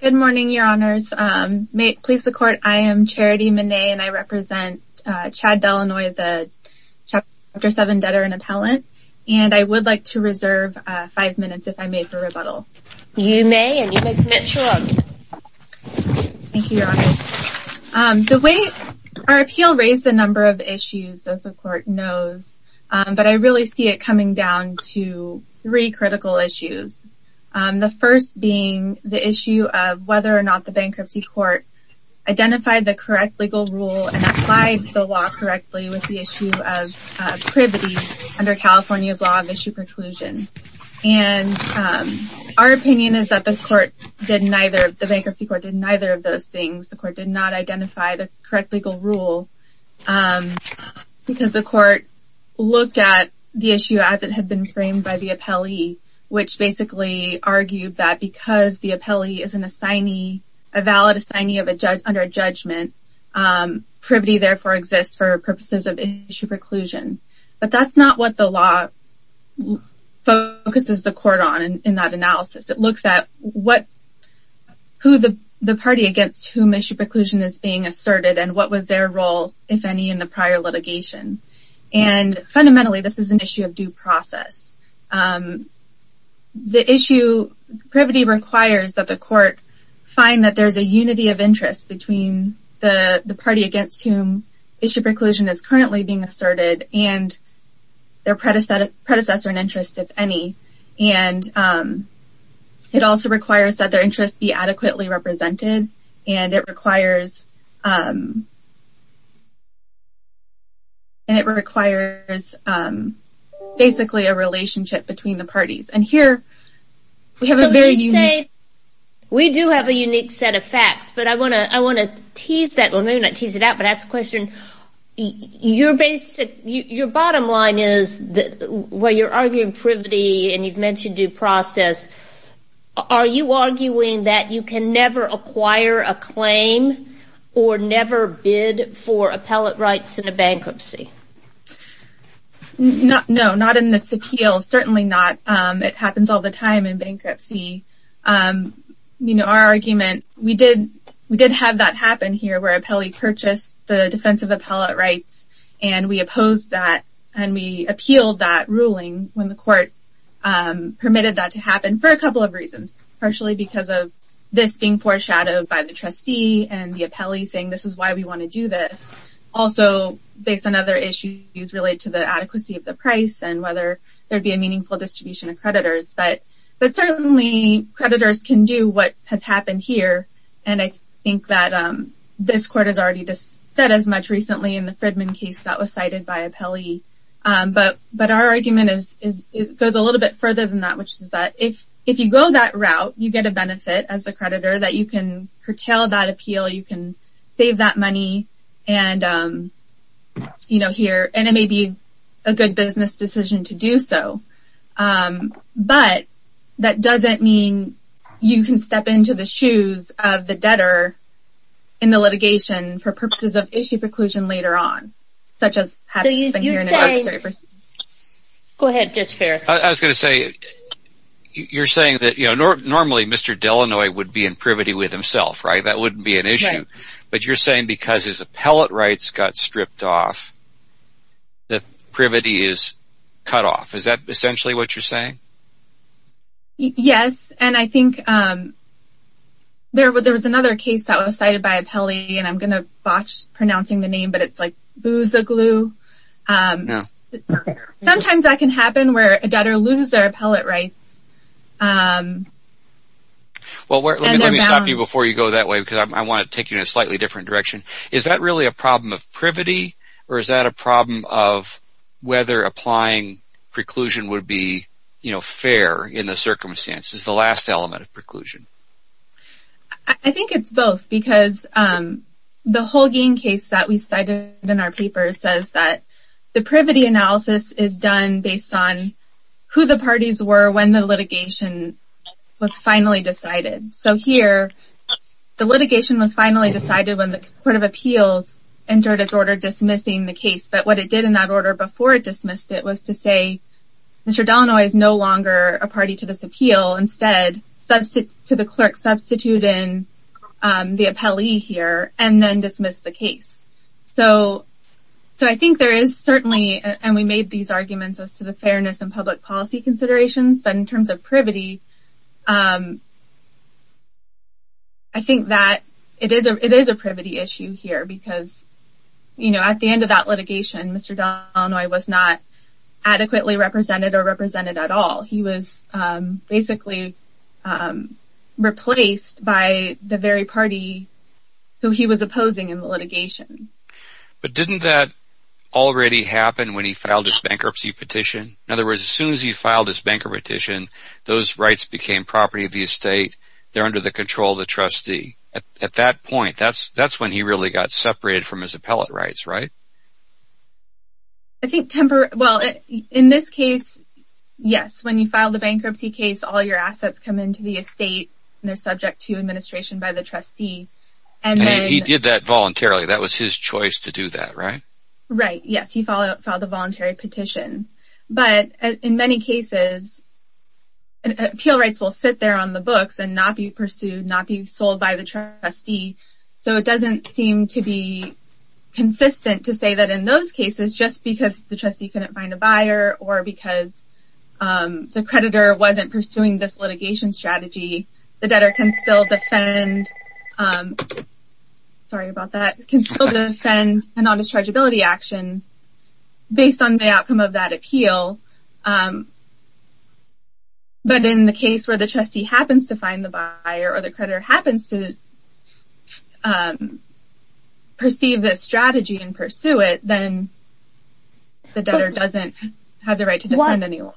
Good morning, Your Honors. May it please the Court, I am Charity Manet and I represent Chad Delannoy, the Chapter 7 Debtor and Appellant, and I would like to reserve five minutes if I may for rebuttal. You may, and you may commit to them. Thank you, Your Honors. The way our appeal raised a number of issues, as the Court knows, but I really see it coming down to three critical issues. The first being the issue of whether or not the Bankruptcy Court identified the correct legal rule and applied the law correctly with the issue of privity under California's Law of Issue Preclusion. Our opinion is that the Bankruptcy Court did neither of those things. The Court did not identify the correct legal rule because the Court looked at the issue as it had been framed by the appellee, which basically argued that because the appellee is a valid assignee under judgment, privity therefore exists for purposes of issue preclusion. But that's not what the law focuses the Court on in that analysis. It looks at who the party against whom issue preclusion is being asserted and what was their role, if any, in the prior litigation. Fundamentally, this is an issue of due process. The issue of privity requires that the Court find that there is a unity of interest between the party against whom issue preclusion is currently being asserted and their predecessor in interest, if any. It also requires that their interests be adequately represented and it requires basically a relationship between the parties. We do have a unique set of facts, but I want to tease that question. Your bottom line is, while you're arguing privity and you've mentioned due process, are you arguing that you can never acquire a claim or never bid for appellate rights in a bankruptcy? No, not in this appeal. Certainly not. It happens all the time in bankruptcy. Our argument, we did have that happen here where an appellee purchased the defensive appellate rights and we opposed that and we appealed that ruling when the Court permitted that to happen for a couple of reasons. Partially because of this being foreshadowed by the trustee and the appellee saying this is why we want to do this. Also, based on other issues related to the adequacy of the price and whether there would be a meaningful distribution of creditors. But certainly creditors can do what has happened here and I think that this Court has already said as much recently in the Fridman case that was cited by appellee. But our argument goes a little bit further than that, which is that if you go that route, you get a benefit as a creditor that you can curtail that appeal, you can save that money and it may be a good business decision to do so. But that doesn't mean you can step into the shoes of the debtor in the litigation for purposes of issue preclusion later on. Normally, Mr. Delanoy would be in privity with himself, right? That wouldn't be an issue. But you're saying because his appellate rights got stripped off, that privity is cut off. Is that essentially what you're saying? Yes, and I think there was another case that was cited by appellee and I'm going to botch pronouncing the name, but it's like Boozoglue. Sometimes that can happen where a debtor loses their appellate rights. Let me stop you before you go that way because I want to take you in a slightly different direction. Is that really a problem of privity or is that a problem of whether applying preclusion would be fair in the circumstances, the last element of preclusion? I think it's both because the Holguin case that we cited in our paper says that the privity analysis is done based on who the parties were when the litigation was finally decided. So here, the litigation was finally decided when the Court of Appeals entered its order dismissing the case. But what it did in that order before it dismissed it was to say, Mr. Delanoy is no longer a party to this appeal. Instead, to the clerk, substitute in the appellee here and then dismiss the case. So I think there is certainly, and we made these arguments as to the fairness in public policy considerations, but in terms of privity, I think that it is a privity issue here because at the end of that litigation, Mr. Delanoy was not adequately represented or represented at all. He was basically replaced by the very party who he was opposing in the litigation. But didn't that already happen when he filed his bankruptcy petition? In other words, as soon as he filed his bankruptcy petition, those rights became property of the estate. They're under the control of the trustee. At that point, that's when he really got separated from his appellate rights, right? Well, in this case, yes. When you file the bankruptcy case, all your assets come into the estate and they're subject to administration by the trustee. He did that voluntarily. That was his choice to do that, right? Right, yes. He filed a voluntary petition. But in many cases, appeal rights will sit there on the books and not be pursued, not be sold by the trustee. It doesn't seem to be consistent to say that in those cases, just because the trustee couldn't find a buyer or because the creditor wasn't pursuing this litigation strategy, the debtor can still defend an on discharge ability action based on the outcome of that appeal. But in the case where the trustee happens to find the buyer or the creditor happens to pursue this strategy and pursue it, then the debtor doesn't have the right to defend any longer.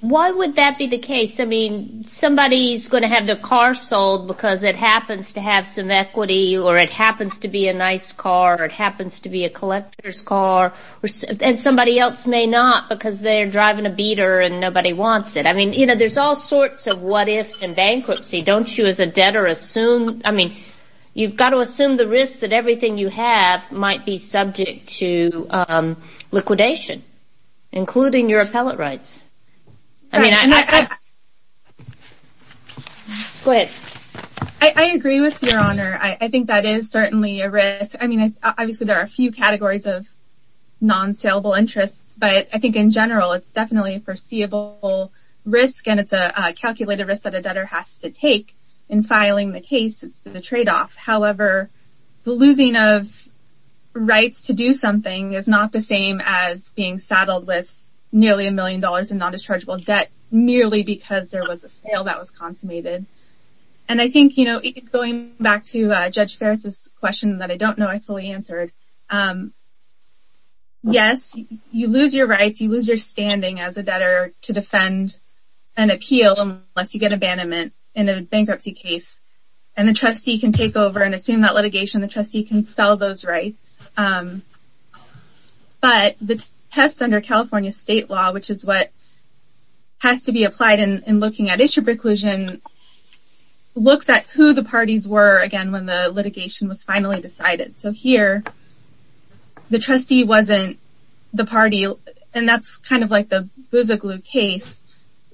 Why would that be the case? I mean, somebody's going to have their car sold because it happens to have some equity or it happens to be a nice car or it happens to be a collector's car and somebody else may not because they're driving a beater and nobody wants it. There's all sorts of what ifs in bankruptcy. You've got to assume the risk that everything you have might be subject to liquidation, including your appellate rights. I agree with your honor. I think that is certainly a risk. I mean, obviously, there are a few categories of non-salable interests, but I think in general, it's definitely a foreseeable risk and it's a calculated risk that a debtor has to take in filing the case. It's the tradeoff. However, the losing of rights to do something is not the same as being saddled with nearly a million dollars in non-dischargeable debt merely because there was a sale that was consummated. I think going back to Judge Ferris' question that I don't know I fully answered, yes, you lose your rights. You lose your standing as a debtor to defend an appeal unless you get abandonment in a bankruptcy case. The trustee can take over and assume that litigation. The trustee can sell those rights, but the test under California state law, which is what has to be applied in looking at issue preclusion, looks at who the parties were again when the litigation was finally decided. So here, the trustee wasn't the party, and that's kind of like the Boozoglou case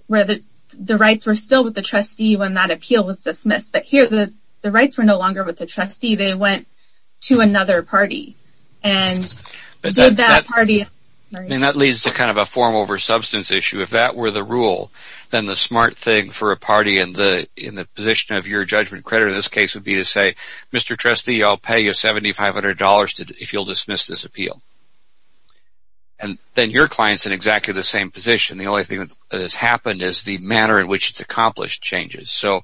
where the rights were still with the trustee when that appeal was dismissed. But here, the rights were no longer with the trustee. They went to another party. That leads to kind of a form over substance issue. If that were the rule, then the smart thing for a party in the position of your judgment creditor in this case would be to say, Mr. Trustee, I'll pay you $7,500 if you'll dismiss this appeal. And then your client's in exactly the same position. The only thing that has happened is the manner in which it's accomplished changes. So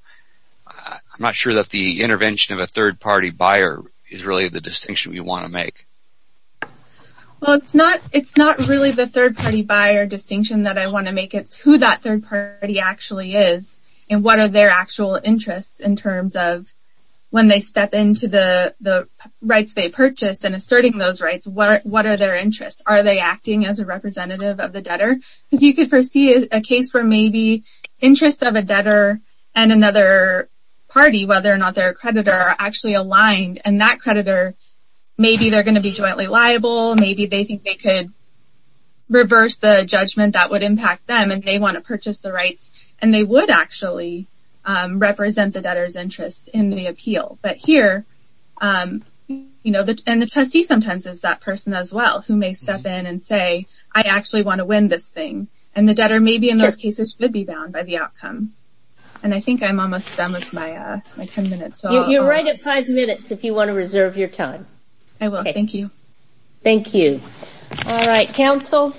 I'm not sure that the intervention of a third party buyer is really the distinction you want to make. Well, it's not really the third party buyer distinction that I want to make. It's who that third party actually is and what are their actual interests in terms of when they step into the rights they purchased and asserting those rights, what are their interests? Are they acting as a representative of the debtor? Because you could foresee a case where maybe interests of a debtor and another party, whether or not they're a creditor, are actually aligned, and that creditor, maybe they're going to be jointly liable. Maybe they think they could reverse the judgment that would impact them, and they want to purchase the rights, and they would actually represent the debtor's interest in the appeal. But here, and the trustee sometimes is that person as well, who may step in and say, I actually want to win this thing. And the debtor maybe in those cases should be bound by the outcome. And I think I'm almost done with my ten minutes. You're right at five minutes if you want to reserve your time. I will. Thank you. Thank you. All right, counsel.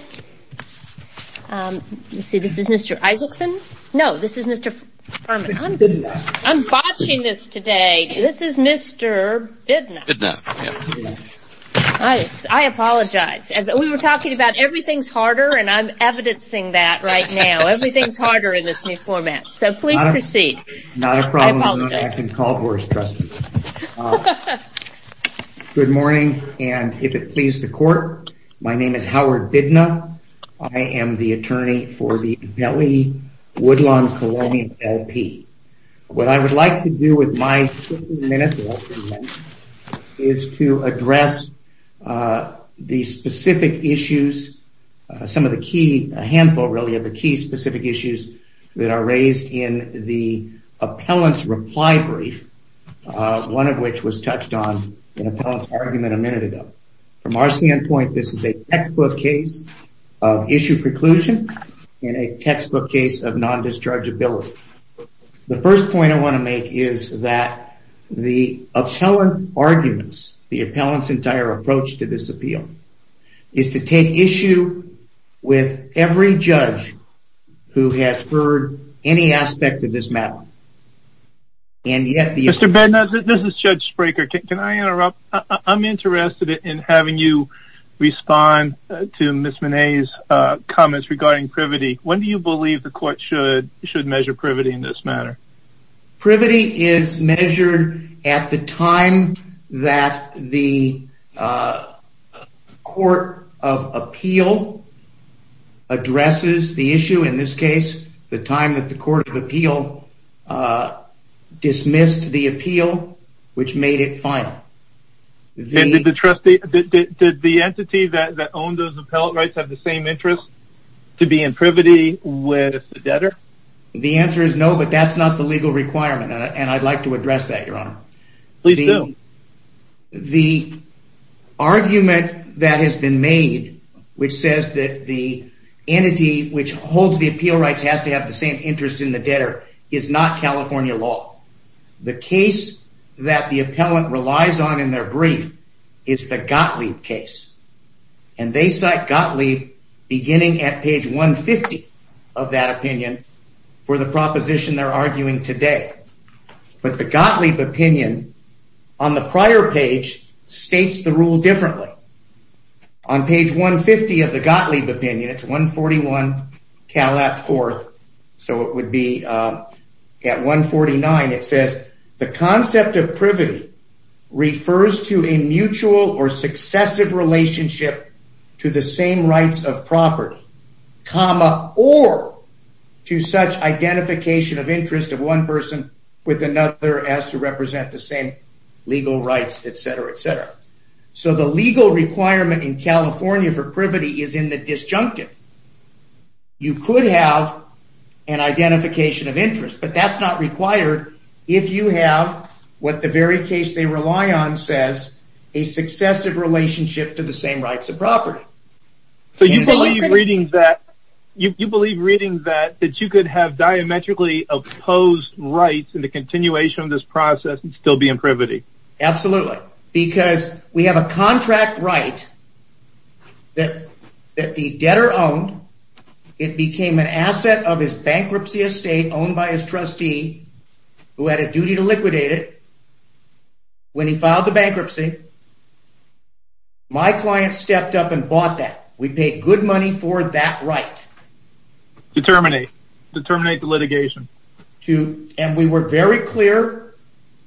Let's see, this is Mr. Isaacson. No, this is Mr. Furman. I'm botching this today. This is Mr. Bidna. I apologize. We were talking about everything's harder, and I'm evidencing that right now. Everything's harder in this new format. So please proceed. Not a problem. I can call for a trustee. Good morning, and if it pleases the court, my name is Howard Bidna. I am the attorney for the Delhi Woodlawn Colonial LP. What I would like to do with my 15 minutes is to address the specific issues. Some of the key, a handful really, of the key specific issues that are raised in the appellant's reply brief, one of which was touched on in an appellant's argument a minute ago. From our standpoint, this is a textbook case of issue preclusion and a textbook case of non-dischargeability. The first point I want to make is that the appellant's arguments, the appellant's entire approach to this appeal, is to take issue with every judge who has heard any aspect of this matter. Mr. Bidna, this is Judge Spraker. Can I interrupt? I'm interested in having you respond to Ms. Manet's comments regarding privity. When do you believe the court should measure privity in this matter? Privity is measured at the time that the court of appeal addresses the issue. In this case, the time that the court of appeal dismissed the appeal, which made it final. Did the entity that owned those appellate rights have the same interest to be in privity with the debtor? The answer is no, but that's not the legal requirement, and I'd like to address that, Your Honor. Please do. The argument that has been made, which says that the entity which holds the appeal rights has to have the same interest in the debtor, is not California law. The case that the appellant relies on in their brief is the Gottlieb case, and they cite Gottlieb beginning at page 150 of that opinion for the proposition they're arguing today. But the Gottlieb opinion on the prior page states the rule differently. On page 150 of the Gottlieb opinion, it's 141 Calat 4th, so it would be at 149, it says, the concept of privity refers to a mutual or successive relationship to the same rights of property, comma, or to such identification of interest of one person with another as to represent the same legal rights, et cetera, et cetera. So the legal requirement in California for privity is in the disjunctive. You could have an identification of interest, but that's not required if you have what the very case they rely on says, a successive relationship to the same rights of property. So you believe reading that, that you could have diametrically opposed rights in the continuation of this process and still be in privity? Absolutely, because we have a contract right that the debtor owned, it became an asset of his bankruptcy estate owned by his trustee who had a duty to liquidate it. When he filed the bankruptcy, my client stepped up and bought that. We paid good money for that right. Determinate. Determinate the litigation. And we were very clear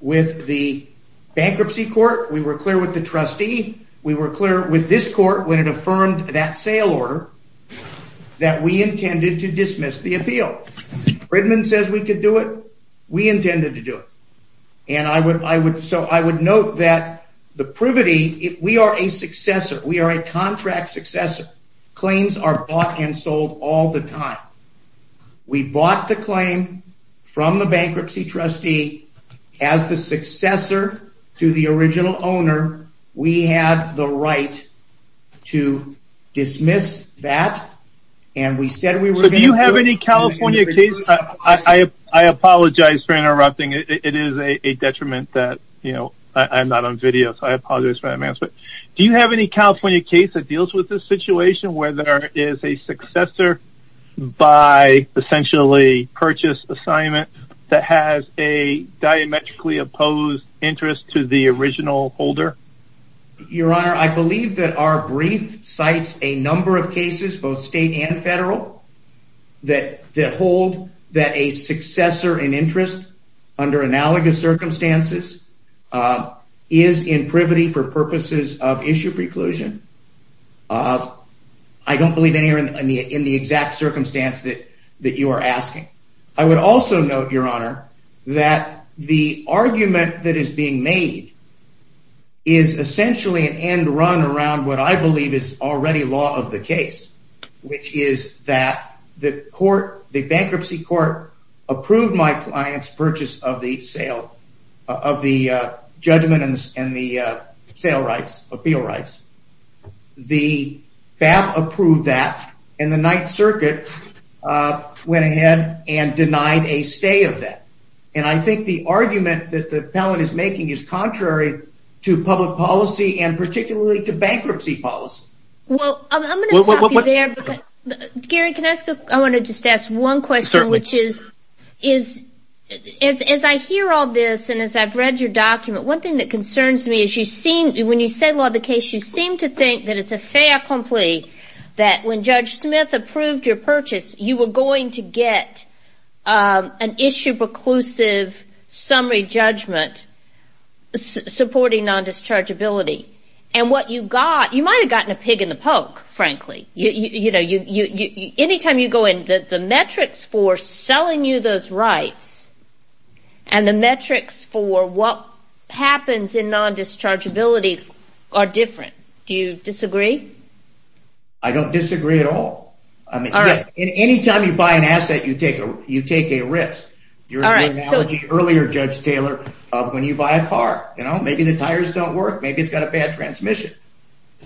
with the bankruptcy court. We were clear with the trustee. We were clear with this court when it affirmed that sale order that we intended to dismiss the appeal. Fridman says we could do it. We intended to do it. And so I would note that the privity, we are a successor. We are a contract successor. Claims are bought and sold all the time. We bought the claim from the bankruptcy trustee as the successor to the original owner. We had the right to dismiss that. Do you have any California case that deals with this situation where there is a successor by essentially purchase assignment that has a diametrically opposed interest to the original holder? Your Honor, I believe that our brief cites a number of cases, both state and federal, that hold that a successor in interest under analogous circumstances is in privity for purposes of issue preclusion. I don't believe in the exact circumstance that you are asking. I would also note, Your Honor, that the argument that is being made is essentially an end run around what I believe is already law of the case, which is that the bankruptcy court approved my client's purchase of the sale of the judgment and the sale rights, appeal rights. The FAB approved that and the Ninth Circuit went ahead and denied a stay of that. And I think the argument that the appellant is making is contrary to public policy and particularly to bankruptcy policy. Well, I'm going to stop you there. Gary, I want to just ask one question. As I hear all this and as I've read your document, one thing that concerns me is when you say law of the case, you seem to think that it's a fait accompli that when Judge Smith approved your purchase, you were going to get an issue preclusive summary judgment supporting non-dischargeability. You might have gotten a pig in the poke, frankly. Anytime you go in, the metrics for selling you those rights and the metrics for what happens in non-dischargeability are different. Do you disagree? I don't disagree at all. Anytime you buy an asset, you take a risk. Earlier, Judge Taylor, when you buy a car, maybe the tires don't work, maybe it's got a bad transmission.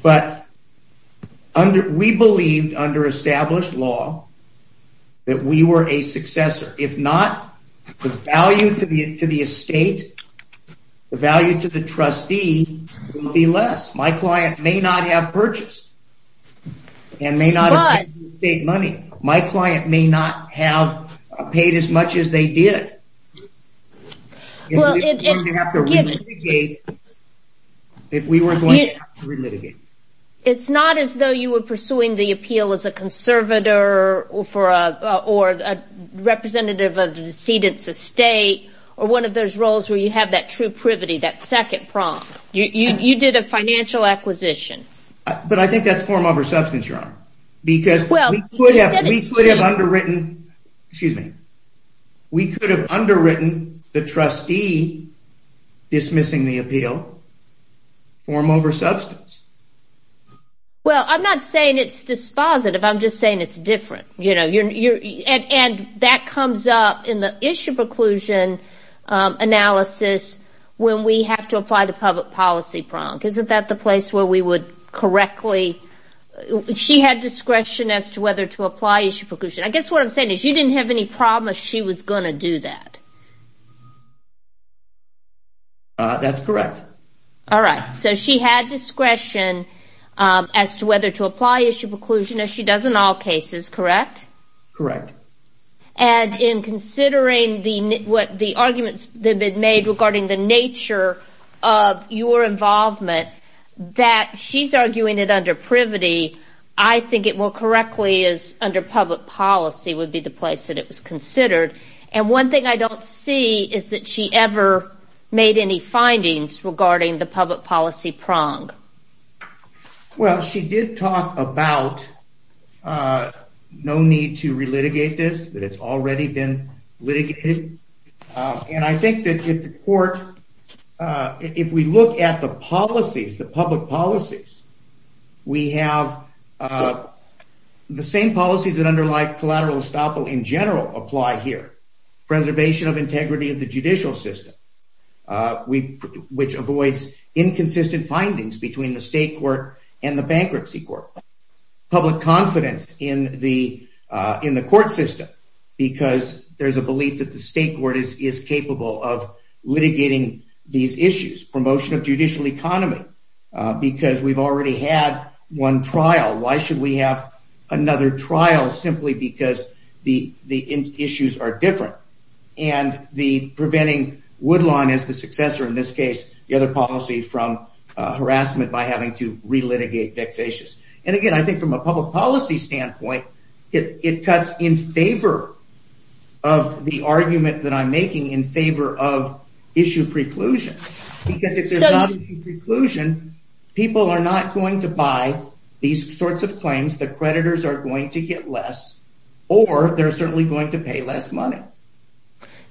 But we believed under established law that we were a successor. If not, the value to the estate, the value to the trustee will be less. My client may not have purchased and may not have paid the estate money. My client may not have paid as much as they did. It's not as though you were pursuing the appeal as a conservator or a representative of the decedent's estate or one of those roles where you have that true privity, that second prong. You did a financial acquisition. But I think that's form over substance, Your Honor. We could have underwritten the trustee dismissing the appeal form over substance. Well, I'm not saying it's dispositive. I'm just saying it's different. And that comes up in the issue preclusion analysis when we have to apply the public policy prong. Isn't that the place where we would correctly? She had discretion as to whether to apply issue preclusion. I guess what I'm saying is you didn't have any promise she was going to do that. That's correct. All right. So she had discretion as to whether to apply issue preclusion as she does in all cases, correct? Correct. And in considering the arguments that have been made regarding the nature of your involvement, that she's arguing it under privity. I think it more correctly is under public policy would be the place that it was considered. And one thing I don't see is that she ever made any findings regarding the public policy prong. Well, she did talk about no need to relitigate this, that it's already been litigated. And I think that if the court, if we look at the policies, the public policies, we have the same policies that underlie collateral estoppel in general apply here. Preservation of integrity of the judicial system, which avoids inconsistent findings between the state court and the bankruptcy court, public confidence in the court system because there's a belief that the state court is capable of litigating these issues. Promotion of judicial economy, because we've already had one trial. Why should we have another trial simply because the issues are different? And the preventing Woodlawn as the successor in this case, the other policy from harassment by having to relitigate vexatious. And again, I think from a public policy standpoint, it cuts in favor of the argument that I'm making in favor of issue preclusion. Because if there's not preclusion, people are not going to buy these sorts of claims that creditors are going to get less or they're certainly going to pay less money.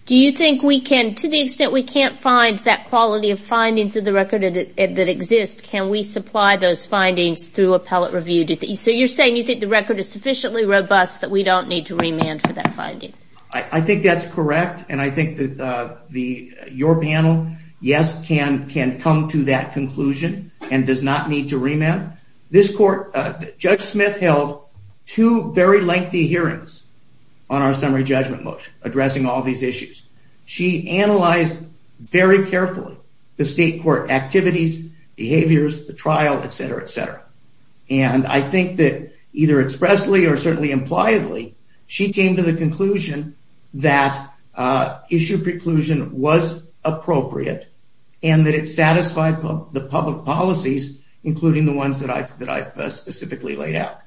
Do you think we can, to the extent we can't find that quality of findings of the record that exists, can we supply those findings through appellate review? So you're saying you think the record is sufficiently robust that we don't need to remand for that finding? I think that's correct. And I think that your panel, yes, can come to that conclusion and does not need to remand. This court, Judge Smith held two very lengthy hearings on our summary judgment motion addressing all these issues. She analyzed very carefully the state court activities, behaviors, the trial, et cetera, et cetera. And I think that either expressly or certainly impliably, she came to the conclusion that issue preclusion was appropriate and that it satisfied the public policies, including the ones that I specifically laid out.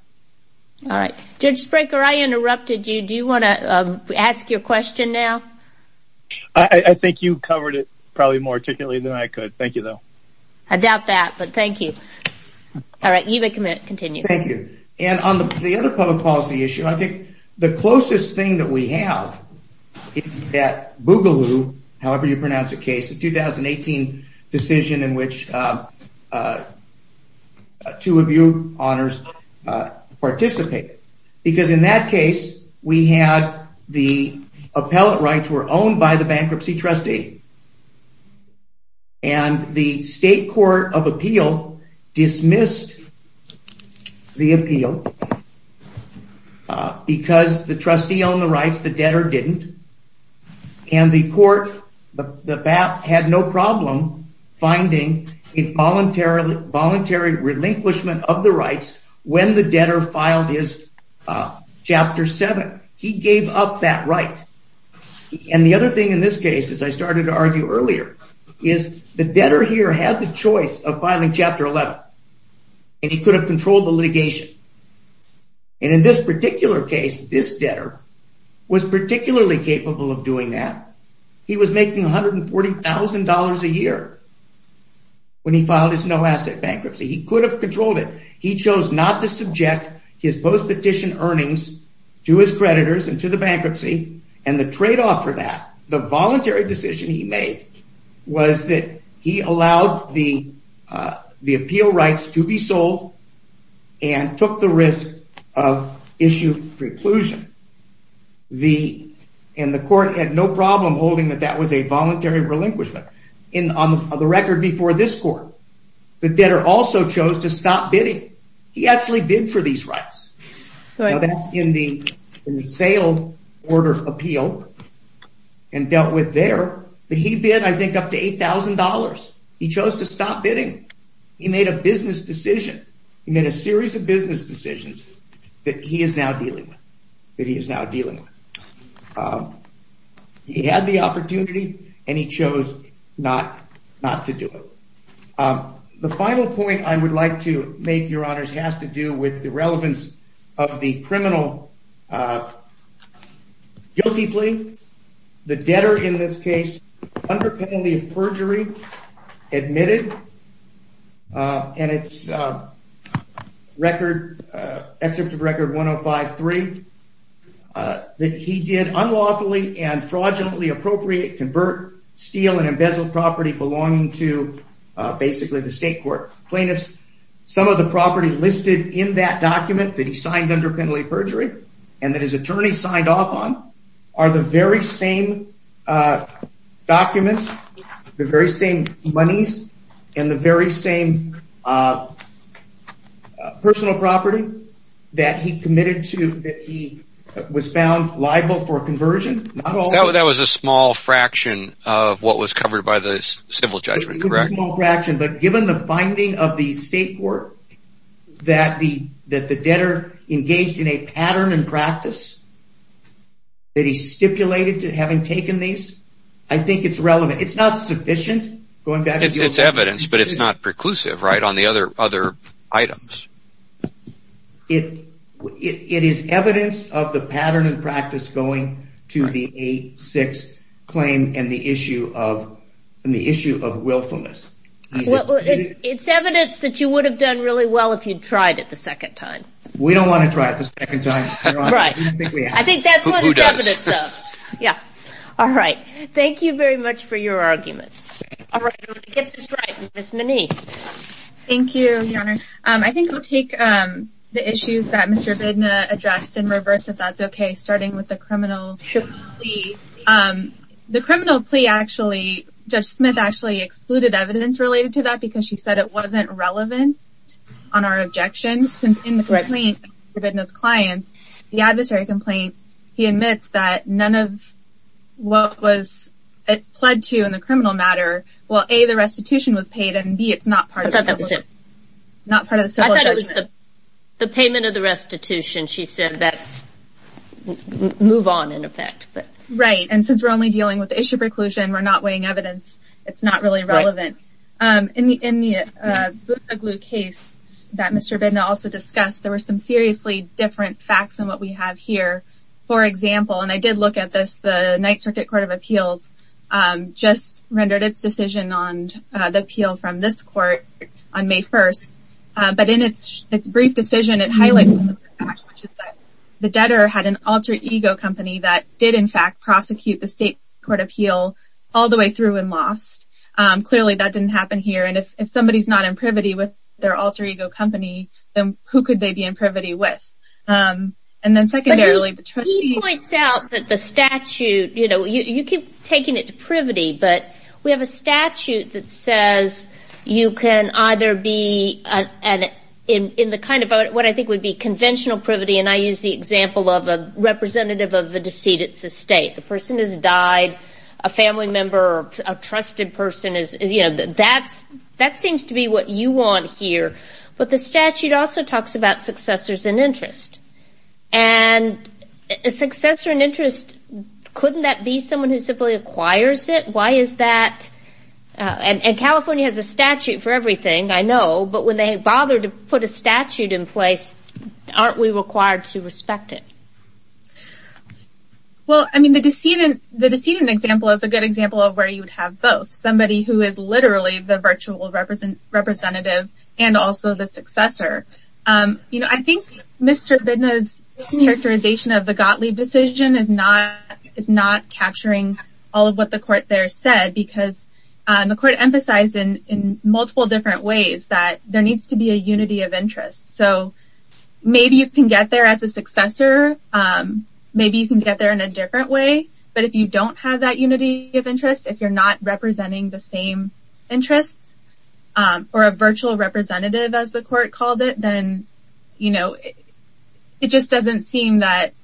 All right. Judge Sprinker, I interrupted you. Do you want to ask your question now? I think you covered it probably more articulately than I could. Thank you, though. I doubt that, but thank you. All right. You may continue. Thank you. And on the other public policy issue, I think the closest thing that we have is that Boogaloo, however you pronounce the case, the 2018 decision in which two of you, honors, participated. Because in that case, we had the appellate rights were owned by the bankruptcy trustee. And the state court of appeal dismissed the appeal because the trustee owned the rights, the debtor didn't. And the court had no problem finding a voluntary relinquishment of the rights when the debtor filed his chapter 7. He gave up that right. And the other thing in this case, as I started to argue earlier, is the debtor here had the choice of filing chapter 11. And he could have controlled the litigation. And in this particular case, this debtor was particularly capable of doing that. He was making $140,000 a year when he filed his no asset bankruptcy. He could have controlled it. He chose not to subject his post petition earnings to his creditors and to the bankruptcy. And the trade off for that, the voluntary decision he made, was that he allowed the appeal rights to be sold and took the risk of issue preclusion. And the court had no problem holding that that was a voluntary relinquishment. And on the record before this court, the debtor also chose to stop bidding. He actually bid for these rights. Now that's in the sale order appeal and dealt with there. But he bid, I think, up to $8,000. He chose to stop bidding. He made a business decision. He made a series of business decisions that he is now dealing with. He had the opportunity, and he chose not to do it. The final point I would like to make, your honors, has to do with the relevance of the criminal guilty plea. The debtor in this case, under penalty of perjury, admitted. And it's record, excerpt of record 105.3, that he did unlawfully and fraudulently appropriate, convert, steal, and embezzle property belonging to basically the state court. Plaintiffs, some of the property listed in that document that he signed under penalty of perjury, and that his attorney signed off on, are the very same documents, the very same monies, and the very same personal property that he was found liable for conversion. That was a small fraction of what was covered by the civil judgment, correct? It was a small fraction, but given the finding of the state court that the debtor engaged in a pattern and practice that he stipulated to having taken these, I think it's relevant. It's not sufficient. It's evidence, but it's not preclusive, right, on the other items. It is evidence of the pattern and practice going to the 8-6 claim and the issue of willfulness. Well, it's evidence that you would have done really well if you'd tried it the second time. We don't want to try it the second time, your honor. Right. I think that's what it's evidence of. Who does? Yeah. All right. Thank you very much for your arguments. All right, I'm going to get this right. Ms. Monique. Thank you, your honor. I think I'll take the issues that Mr. Bedna addressed in reverse, if that's okay, starting with the criminal plea. The criminal plea actually, Judge Smith actually excluded evidence related to that because she said it wasn't relevant on our objection. Since in the complaint, Mr. Bedna's clients, the adversary complaint, he admits that none of what was pled to in the criminal matter, well, A, the restitution was paid, and B, it's not part of the civil judgment. I thought that was it. Not part of the civil judgment. I thought it was the payment of the restitution. She said that's move on, in effect. Right, and since we're only dealing with the issue of preclusion, we're not weighing evidence, it's not really relevant. In the Boots O'Glue case that Mr. Bedna also discussed, there were some seriously different facts than what we have here. For example, and I did look at this, the Ninth Circuit Court of Appeals just rendered its decision on the appeal from this court on May 1st. But in its brief decision, it highlights some of the facts, which is that the debtor had an alter ego company that did, in fact, prosecute the state court appeal all the way through and lost. Clearly, that didn't happen here, and if somebody's not in privity with their alter ego company, then who could they be in privity with? He points out that the statute, you keep taking it to privity, but we have a statute that says you can either be in what I think would be conventional privity, and I use the example of a representative of the decedent's estate. A person has died, a family member, a trusted person, that seems to be what you want here. But the statute also talks about successors in interest, and a successor in interest, couldn't that be someone who simply acquires it? Why is that? And California has a statute for everything, I know, but when they bother to put a statute in place, aren't we required to respect it? Well, I mean, the decedent example is a good example of where you would have both. Somebody who is literally the virtual representative and also the successor. I think Mr. Bidna's characterization of the Gottlieb decision is not capturing all of what the court there said, because the court emphasized in multiple different ways that there needs to be a unity of interest. So maybe you can get there as a successor, maybe you can get there in a different way, but if you don't have that unity of interest, if you're not representing the same interests, or a virtual representative as the court called it, then, you know, it just doesn't seem that,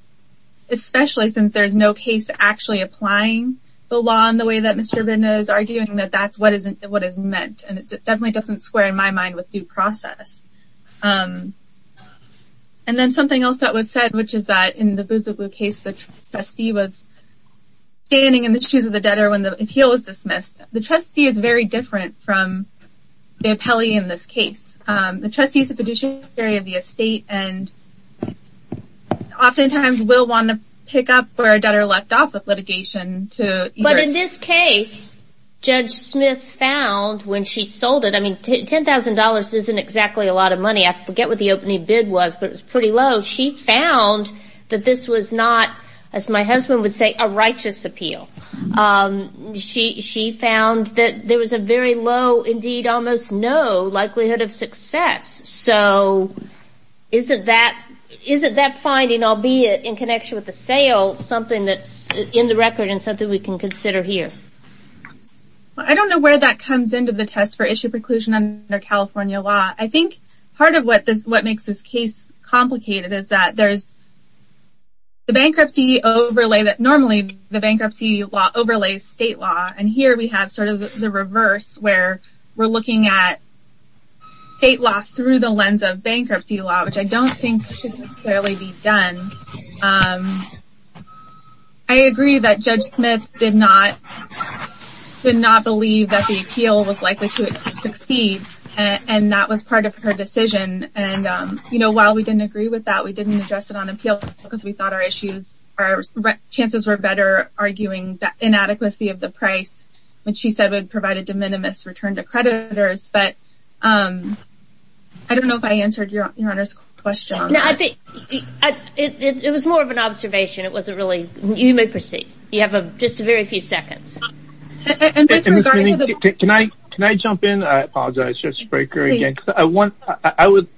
especially since there's no case actually applying the law in the way that Mr. Bidna is arguing, that that's what is meant. And it definitely doesn't square in my mind with due process. And then something else that was said, which is that in the Boots of Blue case, the trustee was standing in the shoes of the debtor when the appeal was dismissed. The trustee is very different from the appellee in this case. The trustee is the fiduciary of the estate and oftentimes will want to pick up where a debtor left off with litigation. But in this case, Judge Smith found when she sold it, I mean, $10,000 isn't exactly a lot of money. I forget what the opening bid was, but it was pretty low. She found that this was not, as my husband would say, a righteous appeal. She found that there was a very low, indeed almost no, likelihood of success. So isn't that finding, albeit in connection with the sale, something that's in the record and something we can consider here? Well, I don't know where that comes into the test for issue preclusion under California law. I think part of what makes this case complicated is that there's the bankruptcy overlay that normally the bankruptcy law overlays state law. And here we have sort of the reverse where we're looking at state law through the lens of bankruptcy law, which I don't think should necessarily be done. I agree that Judge Smith did not believe that the appeal was likely to succeed, and that was part of her decision. And while we didn't agree with that, we didn't address it on appeal because we thought our issues, our chances were better arguing the inadequacy of the price, which she said would provide a de minimis return to creditors. But I don't know if I answered Your Honor's question. No, I think it was more of an observation. It was a really, you may proceed. You have just a very few seconds. Can I jump in? I apologize, Judge Fraker, again.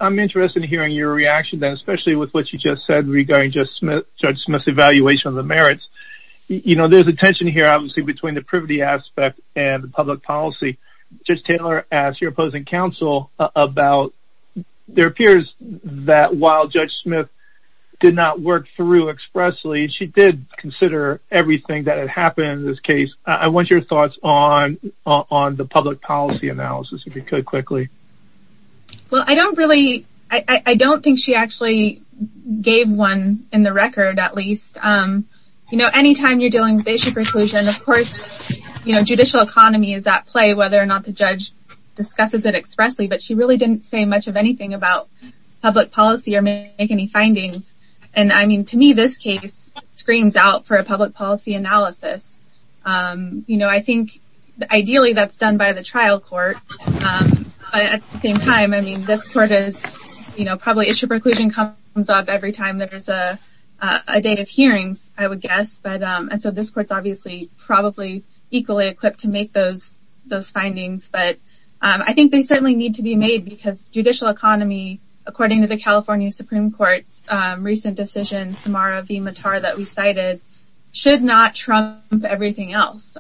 I'm interested in hearing your reaction, especially with what you just said regarding Judge Smith's evaluation of the merits. You know, there's a tension here obviously between the privity aspect and the public policy. Judge Taylor asked your opposing counsel about, there appears that while Judge Smith did not work through expressly, she did consider everything that had happened in this case. I want your thoughts on the public policy analysis if you could quickly. Well, I don't really, I don't think she actually gave one in the record at least. You know, anytime you're dealing with basic reclusion, of course, you know, judicial economy is at play, whether or not the judge discusses it expressly. But she really didn't say much of anything about public policy or make any findings. And I mean, to me, this case screams out for a public policy analysis. You know, I think ideally that's done by the trial court. At the same time, I mean, this court is, you know, probably issue preclusion comes up every time there's a date of hearings, I would guess. And so this court's obviously probably equally equipped to make those findings. But I think they certainly need to be made because judicial economy, according to the California Supreme Court's recent decision, that we cited, should not trump everything else,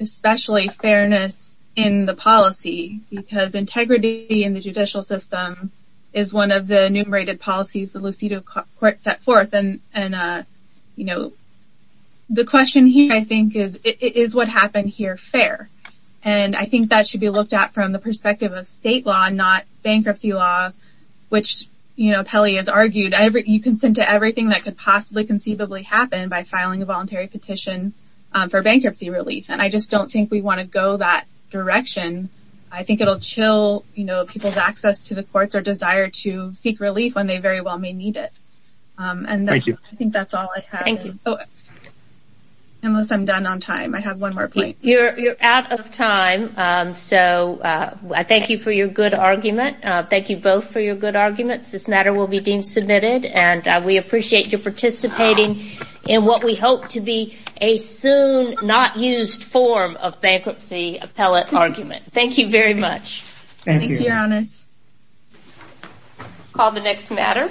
especially fairness in the policy, because integrity in the judicial system is one of the enumerated policies the Lucido court set forth. And, you know, the question here, I think, is, is what happened here fair? And I think that should be looked at from the perspective of state law, not bankruptcy law, which, you know, Pelly has argued you can send to everything that could possibly conceivably happen by filing a voluntary petition for bankruptcy relief. And I just don't think we want to go that direction. I think it'll chill, you know, people's access to the courts or desire to seek relief when they very well may need it. And I think that's all I have. Thank you. Unless I'm done on time, I have one more point. You're out of time. So I thank you for your good argument. Thank you both for your good arguments. This matter will be deemed submitted. And we appreciate your participating in what we hope to be a soon not used form of bankruptcy appellate argument. Thank you very much. Thank you, Your Honors. Call the next matter.